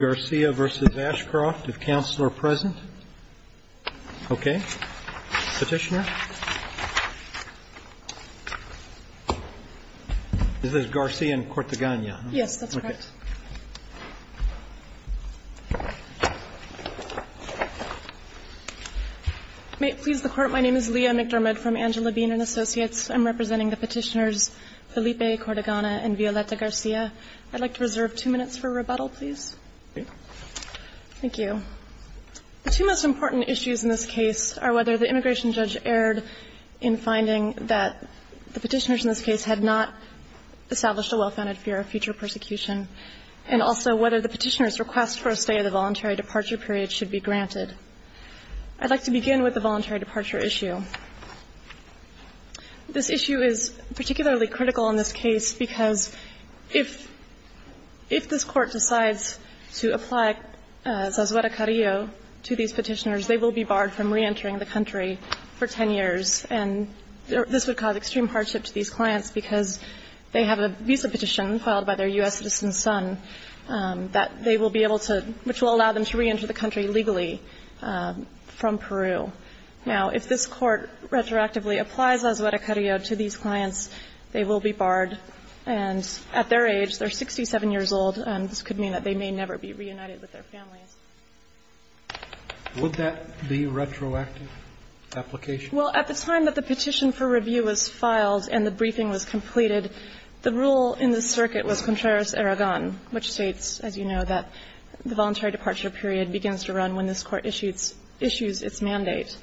v. Ashcroft, if counsel are present. Okay. Petitioner. This is Garcia and Cortagana. Yes, that's correct. May it please the Court, my name is Leah McDermott from Angela Bean & Associates. I'm representing the petitioners Felipe Cortagana and Violeta Garcia. I'd like to reserve two minutes for rebuttal, please. Thank you. The two most important issues in this case are whether the immigration judge erred in finding that the petitioners in this case had not established a well-founded fear of future persecution, and also whether the petitioners' request for a stay of the voluntary departure period should be granted. I'd like to begin with the voluntary departure issue. This issue is particularly critical in this case, because if this Court decides to apply Zazueta-Carrillo to these petitioners, they will be barred from reentering the country for 10 years. And this would cause extreme hardship to these clients, because they have a visa petition filed by their U.S. citizen son that they will be able to – which will allow them to reenter the country legally from Peru. Now, if this Court retroactively applies Zazueta-Carrillo to these clients, they will be barred. And at their age, they're 67 years old, and this could mean that they may never be reunited with their families. Would that be a retroactive application? Well, at the time that the petition for review was filed and the briefing was completed, the rule in the circuit was contrarios aragon, which states, as you know, that the voluntary departure period begins to run when this Court issues its mandate.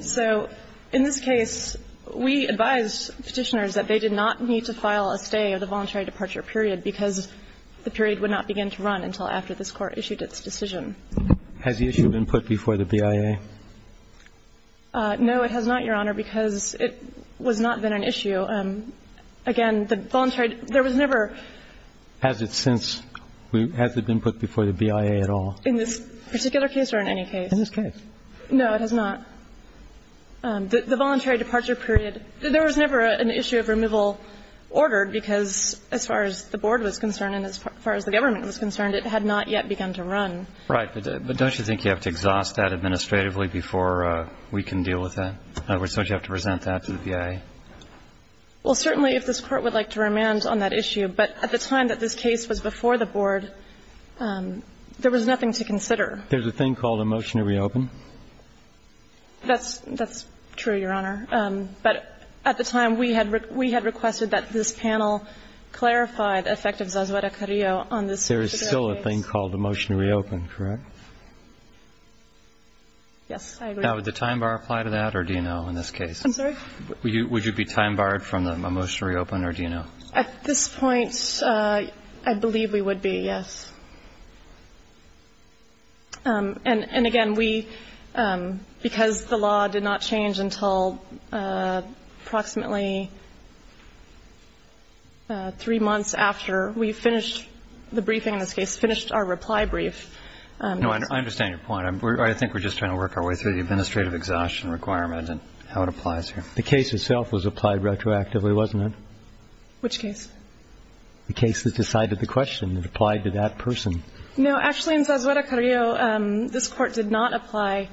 So in this case, we advise petitioners that they did not need to file a stay of the voluntary departure period, because the period would not begin to run until after this Court issued its decision. Has the issue been put before the BIA? No, it has not, Your Honor, because it was not then an issue. Again, the voluntary – there was never – Has it since – has it been put before the BIA at all? In this particular case or in any case? In this case. No, it has not. The voluntary departure period – there was never an issue of removal ordered, because as far as the board was concerned and as far as the government was concerned, it had not yet begun to run. Right. But don't you think you have to exhaust that administratively before we can deal with that? In other words, don't you have to present that to the BIA? Well, certainly, if this Court would like to remand on that issue. But at the time that this case was before the board, there was nothing to consider. There's a thing called a motion to reopen? That's true, Your Honor. But at the time, we had requested that this panel clarify the effect of Zazuera-Carrillo on this particular case. There is still a thing called a motion to reopen, correct? Yes, I agree. Now, would the time bar apply to that or do you know in this case? I'm sorry? Would you be time barred from a motion to reopen or do you know? At this point, I believe we would be, yes. And again, we, because the law did not change until approximately three months after we finished the briefing in this case, finished our reply brief. No, I understand your point. I think we're just trying to work our way through the administrative exhaustion requirement and how it applies here. The case itself was applied retroactively, wasn't it? Which case? The case that decided the question that applied to that person. No, actually, in Zazuera-Carrillo, this Court did not apply,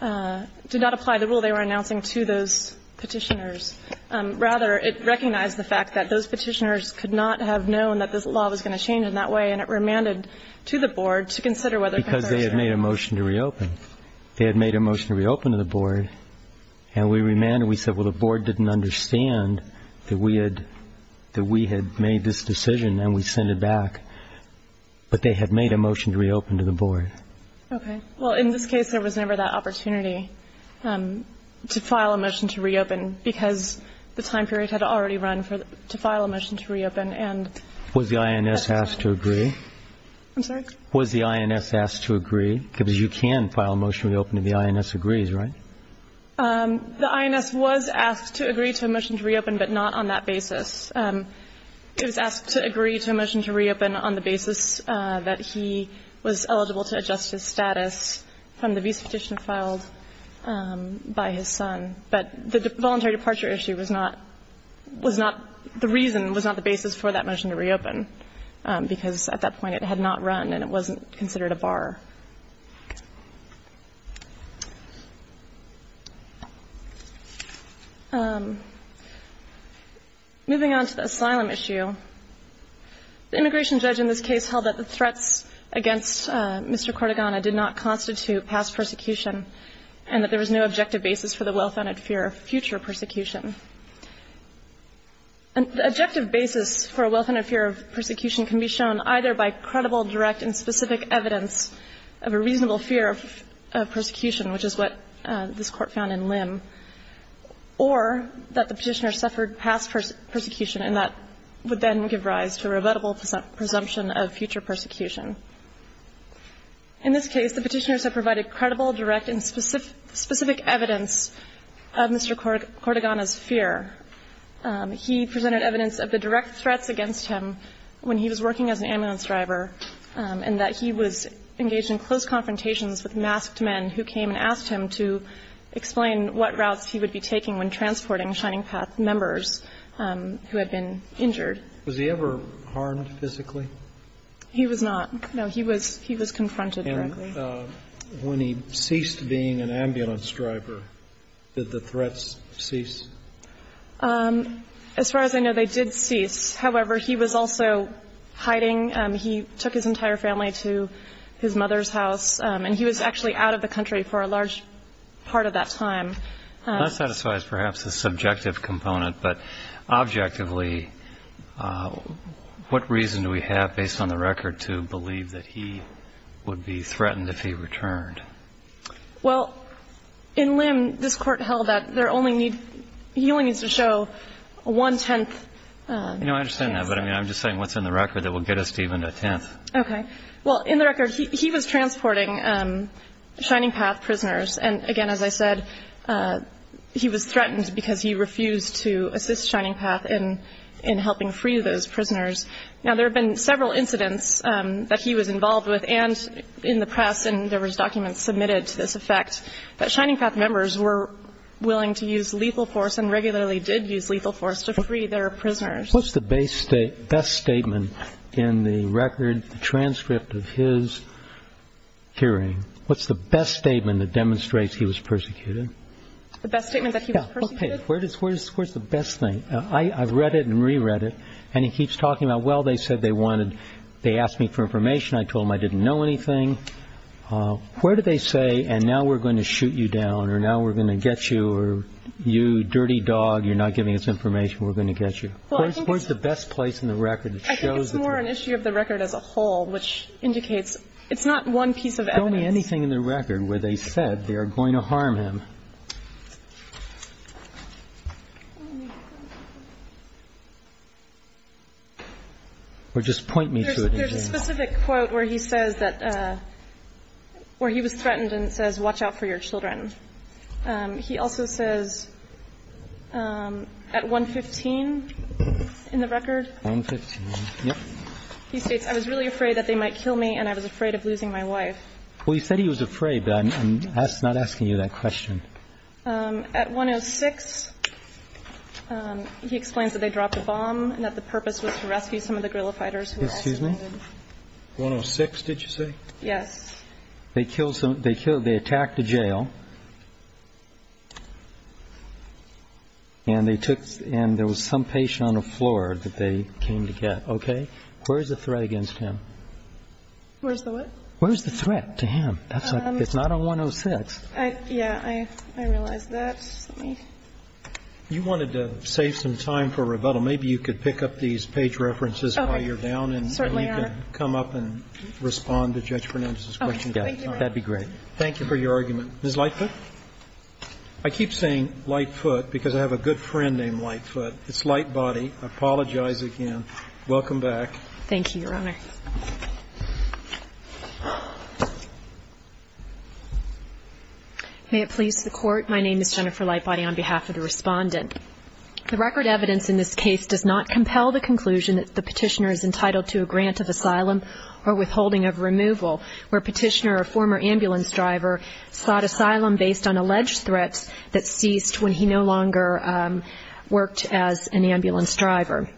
did not apply the rule they were announcing to those Petitioners. Rather, it recognized the fact that those Petitioners could not have known that this law was going to change in that way, and it remanded to the Board to consider whether it could. Because they had made a motion to reopen. They had made a motion to reopen to the Board, and we remanded. And we said, well, the Board didn't understand that we had made this decision and we sent it back. But they had made a motion to reopen to the Board. Okay. Well, in this case, there was never that opportunity to file a motion to reopen because the time period had already run to file a motion to reopen, and that's it. Was the INS asked to agree? I'm sorry? Was the INS asked to agree? Because you can file a motion to reopen if the INS agrees, right? The INS was asked to agree to a motion to reopen, but not on that basis. It was asked to agree to a motion to reopen on the basis that he was eligible to adjust his status from the visa petition filed by his son. But the voluntary departure issue was not the reason, was not the basis for that motion to reopen, because at that point it had not run and it wasn't considered a bar. Moving on to the asylum issue, the immigration judge in this case held that the threats against Mr. Cortogano did not constitute past persecution and that there was no objective basis for the well-founded fear of future persecution. The objective basis for a well-founded fear of persecution can be shown either by a reasonable fear of persecution, which is what this Court found in Lim, or that the Petitioner suffered past persecution, and that would then give rise to a rebuttable presumption of future persecution. In this case, the Petitioners have provided credible, direct, and specific evidence of Mr. Cortogano's fear. He presented evidence of the direct threats against him when he was working as an ambulance driver, and that he was engaged in close confrontations with masked men who came and asked him to explain what routes he would be taking when transporting Shining Path members who had been injured. Was he ever harmed physically? He was not. No, he was confronted directly. And when he ceased being an ambulance driver, did the threats cease? As far as I know, they did cease. However, he was also hiding. He took his entire family to his mother's house, and he was actually out of the country for a large part of that time. That satisfies perhaps the subjective component. But objectively, what reason do we have, based on the record, to believe that he would be threatened if he returned? Well, in Lim, this Court held that there only need to show one-tenth of the evidence I understand that, but I'm just saying what's in the record that will get us to even a tenth. Okay. Well, in the record, he was transporting Shining Path prisoners. And again, as I said, he was threatened because he refused to assist Shining Path in helping free those prisoners. Now, there have been several incidents that he was involved with, and in the press, and there was documents submitted to this effect, that Shining Path members were willing to use lethal force and regularly did use lethal force to free their prisoners. What's the best statement in the record, the transcript of his hearing? What's the best statement that demonstrates he was persecuted? The best statement that he was persecuted? Okay. Where's the best thing? I've read it and reread it, and he keeps talking about, well, they said they wanted they asked me for information. I told them I didn't know anything. Where do they say, and now we're going to shoot you down, or now we're going to get you, or you dirty dog, you're not giving us information, we're going to get you? Where's the best place in the record that shows that? I think it's more an issue of the record as a whole, which indicates it's not one piece of evidence. Tell me anything in the record where they said they are going to harm him. Or just point me to it. There's a specific quote where he says that, where he was threatened and it says, watch out for your children. He also says, at 115, in the record, he states, I was really afraid that they might kill me and I was afraid of losing my wife. Well, you said he was afraid, but I'm not asking you that question. At 106, he explains that they dropped a bomb and that the purpose was to rescue some of the guerrilla fighters. Excuse me? 106, did you say? Yes. They killed, they attacked a jail and they took, and there was some patient on the floor that they came to get. Okay? Where's the threat against him? Where's the what? Where's the threat to him? It's not on 106. Yeah, I realize that. Let me. You wanted to save some time for rebuttal. Maybe you could pick up these page references while you're down. Okay. Certainly, Your Honor. You can come up and respond to Judge Fernandez's question. Thank you. That would be great. Thank you for your argument. Ms. Lightfoot? I keep saying Lightfoot because I have a good friend named Lightfoot. It's Lightbody. I apologize again. Welcome back. Thank you, Your Honor. May it please the Court. My name is Jennifer Lightbody on behalf of the Respondent. The record evidence in this case does not compel the conclusion that the Petitioner is entitled to a grant of asylum or withholding of removal, where Petitioner, a former ambulance driver, sought asylum based on alleged threats that ceased when he no longer worked as an ambulance driver.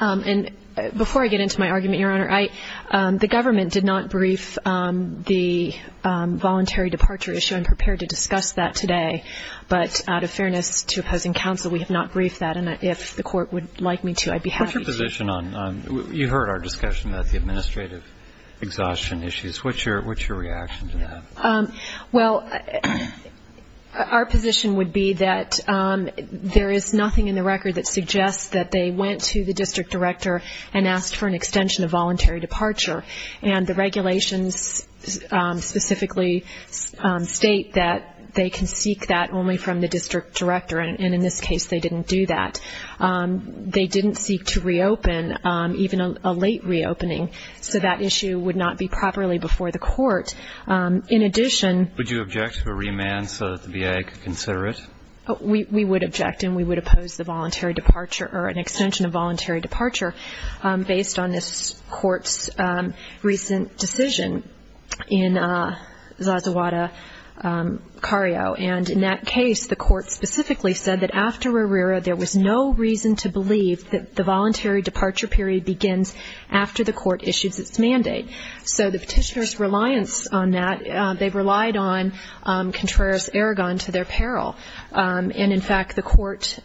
And before I get into my argument, Your Honor, the government did not brief the voluntary departure issue. I'm prepared to discuss that today. But out of fairness to opposing counsel, we have not briefed that. And if the Court would like me to, I'd be happy to. You heard our discussion about the administrative exhaustion issues. What's your reaction to that? Well, our position would be that there is nothing in the record that suggests that they went to the district director and asked for an extension of voluntary departure. And the regulations specifically state that they can seek that only from the district director, and in this case they didn't do that. They didn't seek to reopen, even a late reopening. So that issue would not be properly before the Court. In addition... Would you object to a remand so that the VA could consider it? We would object, and we would oppose the voluntary departure or an extension of voluntary departure based on this Court's recent decision in Zazawada-Cario. And in that case, the Court specifically said that after Herrera, there was no reason to believe that the voluntary departure period begins after the Court issues its mandate. So the petitioner's reliance on that, they relied on Contreras-Aragon to their peril. And, in fact, the Court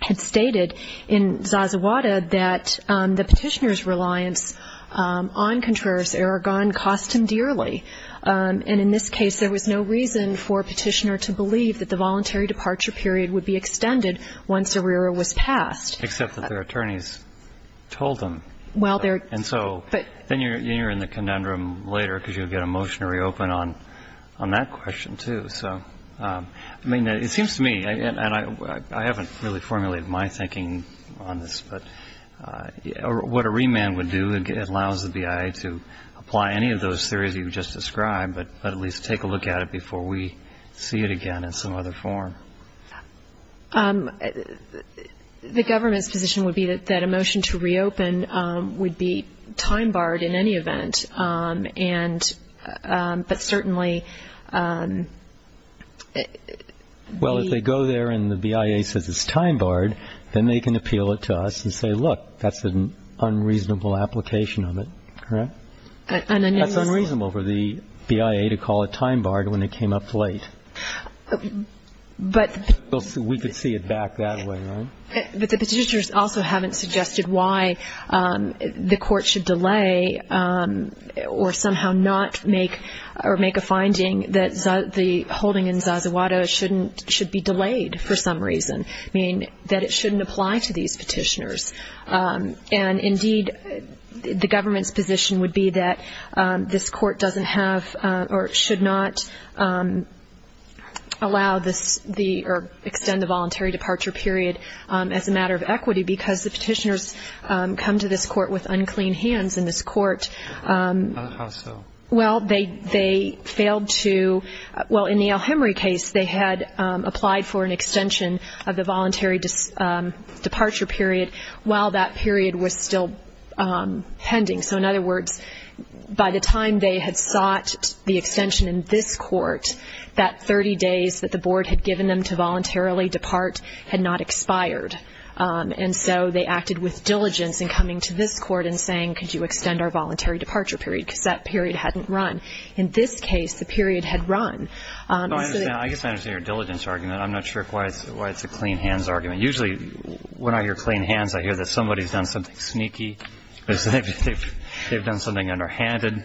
had stated in Zazawada that the petitioner's reliance on Contreras-Aragon cost him dearly. And in this case, there was no reason for a petitioner to believe that the voluntary departure period would be extended once Herrera was passed. Except that their attorneys told them. And so then you're in the conundrum later because you get a motion to reopen on that question, too. So, I mean, it seems to me, and I haven't really formulated my thinking on this, but what a remand would do, it allows the BIA to apply any of those theories you just described, but at least take a look at it before we see it again in some other form. The government's position would be that a motion to reopen would be time-barred in any event, but certainly. Well, if they go there and the BIA says it's time-barred, then they can appeal it to us and say, look, that's an unreasonable application of it, correct? That's unreasonable for the BIA to call it time-barred when it came up late. We could see it back that way, right? But the petitioners also haven't suggested why the Court should delay or somehow not make a finding that the holding in Zazawada should be delayed for some reason, meaning that it shouldn't apply to these petitioners. And, indeed, the government's position would be that this Court doesn't have or should not allow this or extend the voluntary departure period as a matter of equity because the petitioners come to this Court with unclean hands in this Court. How so? Well, they failed to – well, in the El Hemry case, they had applied for an extension of the voluntary departure period while that period was still pending. So, in other words, by the time they had sought the extension in this Court, that 30 days that the Board had given them to voluntarily depart had not expired. And so they acted with diligence in coming to this Court and saying, could you extend our voluntary departure period because that period hadn't run. In this case, the period had run. I guess I understand your diligence argument. I'm not sure why it's a clean hands argument. Usually when I hear clean hands, I hear that somebody's done something sneaky, they've done something underhanded,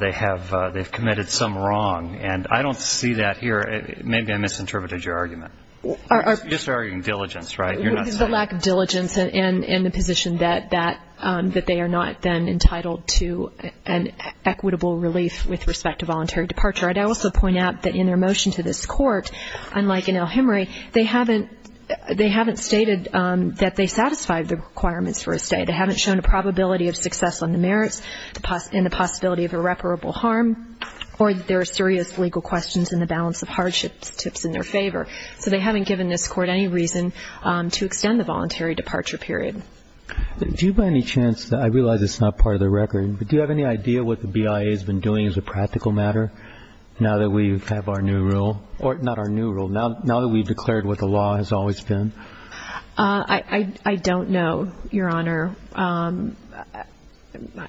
they've committed some wrong. And I don't see that here. Maybe I misinterpreted your argument. You're just arguing diligence, right? It's the lack of diligence and the position that they are not then entitled to an equitable relief with respect to voluntary departure. I'd also point out that in their motion to this Court, unlike in El Hemry, they haven't stated that they satisfied the requirements for a stay. They haven't shown a probability of success on the merits and the possibility of irreparable harm, or that there are serious legal questions in the balance of hardships tips in their favor. So they haven't given this Court any reason to extend the voluntary departure period. Do you by any chance, I realize it's not part of the record, but do you have any idea what the BIA has been doing as a practical matter now that we have our new rule, or not our new rule, now that we've declared what the law has always been? I don't know, Your Honor.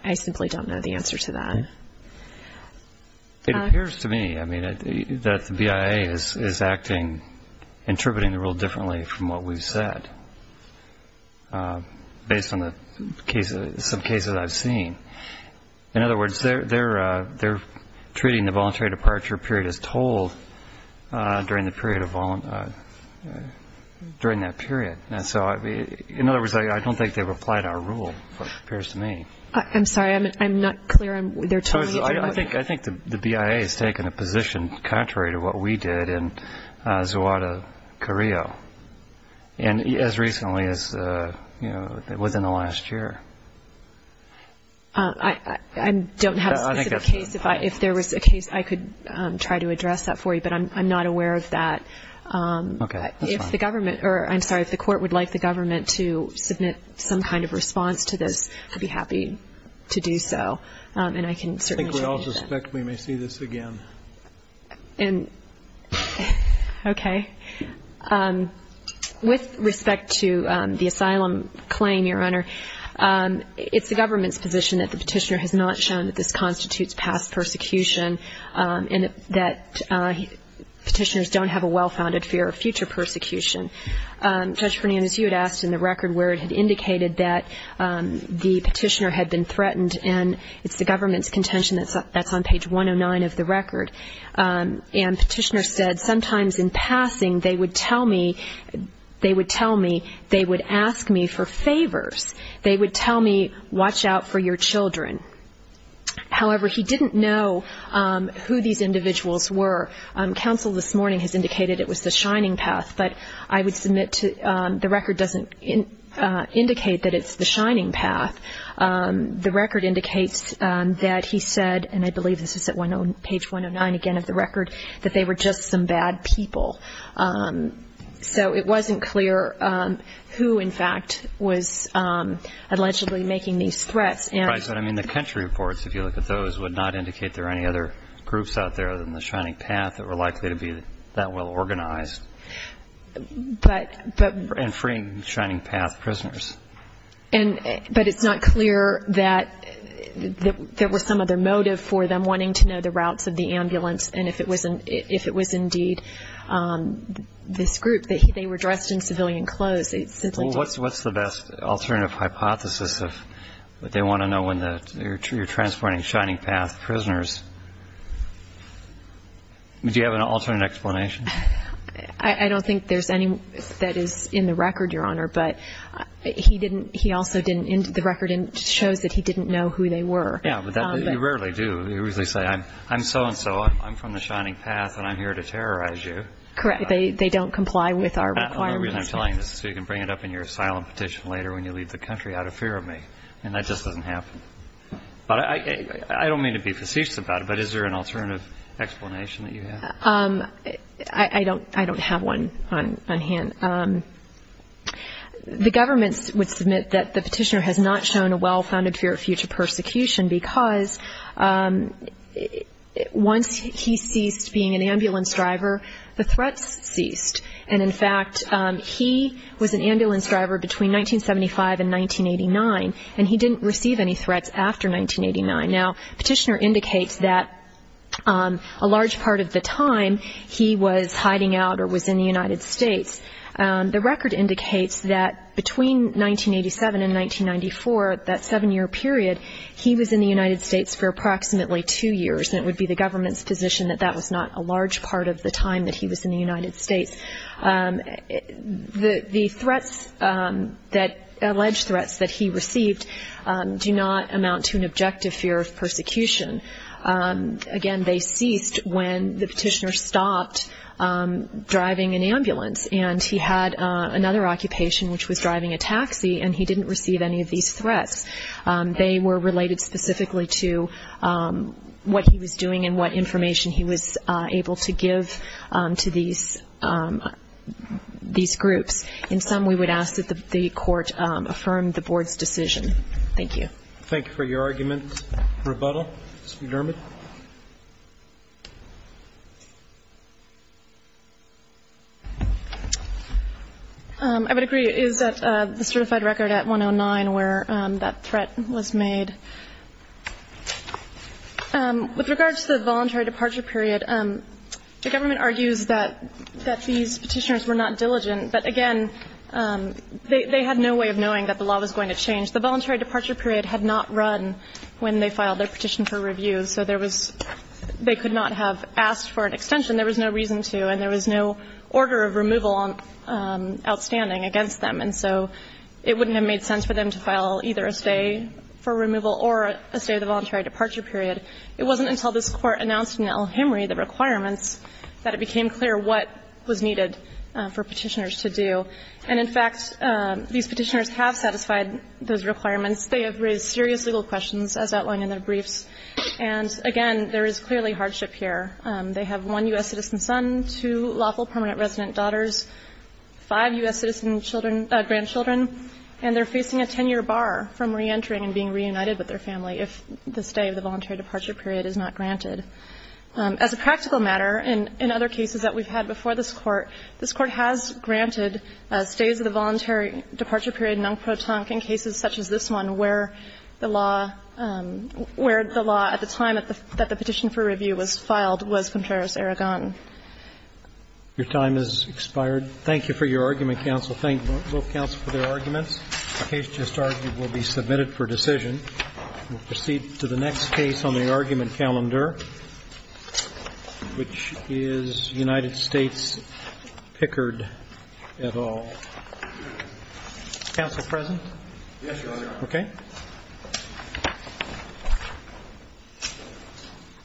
I simply don't know the answer to that. It appears to me, I mean, that the BIA is acting, interpreting the rule differently from what we've said, based on some cases I've seen. In other words, they're treating the voluntary departure period as told during that period. In other words, I don't think they've applied our rule, it appears to me. I'm sorry, I'm not clear. I think the BIA has taken a position contrary to what we did in Zuada, Correo, and as recently as, you know, within the last year. I don't have a specific case. If there was a case, I could try to address that for you, but I'm not aware of that. If the government, or I'm sorry, if the court would like the government to submit some kind of response to this, I'd be happy to do so, and I can certainly do that. I think we all suspect we may see this again. Okay. With respect to the asylum claim, Your Honor, it's the government's position that the petitioner has not shown that this constitutes past persecution and that petitioners don't have a well-founded fear of future persecution. Judge Fernandez, you had asked in the record where it had indicated that the petitioner had been threatened, and it's the government's contention that's on page 109 of the record. And petitioner said, sometimes in passing they would tell me they would ask me for favors. They would tell me, watch out for your children. However, he didn't know who these individuals were. Counsel this morning has indicated it was the Shining Path, but I would submit the record doesn't indicate that it's the Shining Path. The record indicates that he said, and I believe this is at page 109 again of the record, that they were just some bad people. So it wasn't clear who, in fact, was allegedly making these threats. But, I mean, the country reports, if you look at those, would not indicate there are any other groups out there other than the Shining Path that were likely to be that well organized in freeing Shining Path prisoners. But it's not clear that there was some other motive for them wanting to know the routes of the ambulance and if it was indeed this group. They were dressed in civilian clothes. What's the best alternative hypothesis if they want to know when you're transporting Shining Path prisoners? Do you have an alternate explanation? I don't think there's any that is in the record, Your Honor. But he also didn't, the record shows that he didn't know who they were. Yeah, but you rarely do. You usually say, I'm so-and-so, I'm from the Shining Path, and I'm here to terrorize you. Correct. They don't comply with our requirements. And the reason I'm telling you this is so you can bring it up in your asylum petition later when you leave the country out of fear of me. And that just doesn't happen. But I don't mean to be facetious about it, but is there an alternative explanation that you have? I don't have one on hand. The government would submit that the petitioner has not shown a well-founded fear of future persecution because once he ceased being an ambulance driver, the threats ceased. And, in fact, he was an ambulance driver between 1975 and 1989, and he didn't receive any threats after 1989. Now, the petitioner indicates that a large part of the time he was hiding out or was in the United States. The record indicates that between 1987 and 1994, that seven-year period, he was in the United States for approximately two years, and it would be the government's position that that was not a large part of the time that he was in the United States. The threats that he received do not amount to an objective fear of persecution. Again, they ceased when the petitioner stopped driving an ambulance, and he had another occupation, which was driving a taxi, and he didn't receive any of these threats. They were related specifically to what he was doing and what information he was able to give to these groups. In sum, we would ask that the Court affirm the Board's decision. Thank you. Thank you for your argument, rebuttal. Ms. McDermott. I would agree. It is the certified record at 109 where that threat was made. With regard to the voluntary departure period, the government argues that these petitioners were not diligent, but, again, they had no way of knowing that the law was going to change. The voluntary departure period had not run when they filed their petition for review, so there was they could not have asked for an extension. There was no reason to, and there was no order of removal outstanding against them. And so it wouldn't have made sense for them to file either a stay for removal or a stay of the voluntary departure period. It wasn't until this Court announced in El Hemry the requirements that it became clear what was needed for petitioners to do. And, in fact, these petitioners have satisfied those requirements. They have raised serious legal questions, as outlined in their briefs. And, again, there is clearly hardship here. They have one U.S. citizen son, two lawful permanent resident daughters, five U.S. citizen children, grandchildren, and they're facing a 10-year bar from reentering and being reunited with their family if the stay of the voluntary departure period is not granted. As a practical matter, in other cases that we've had before this Court, this Court has granted stays of the voluntary departure period non pro tonque in cases such as this one where the law, where the law at the time that the petition for review was filed was contrarios aragon. Your time has expired. Thank you for your argument, counsel. Thank both counsel for their arguments. The case just argued will be submitted for decision. We'll proceed to the next case on the argument calendar, which is United States Pickard et al. Counsel present? Yes, Your Honor. Okay.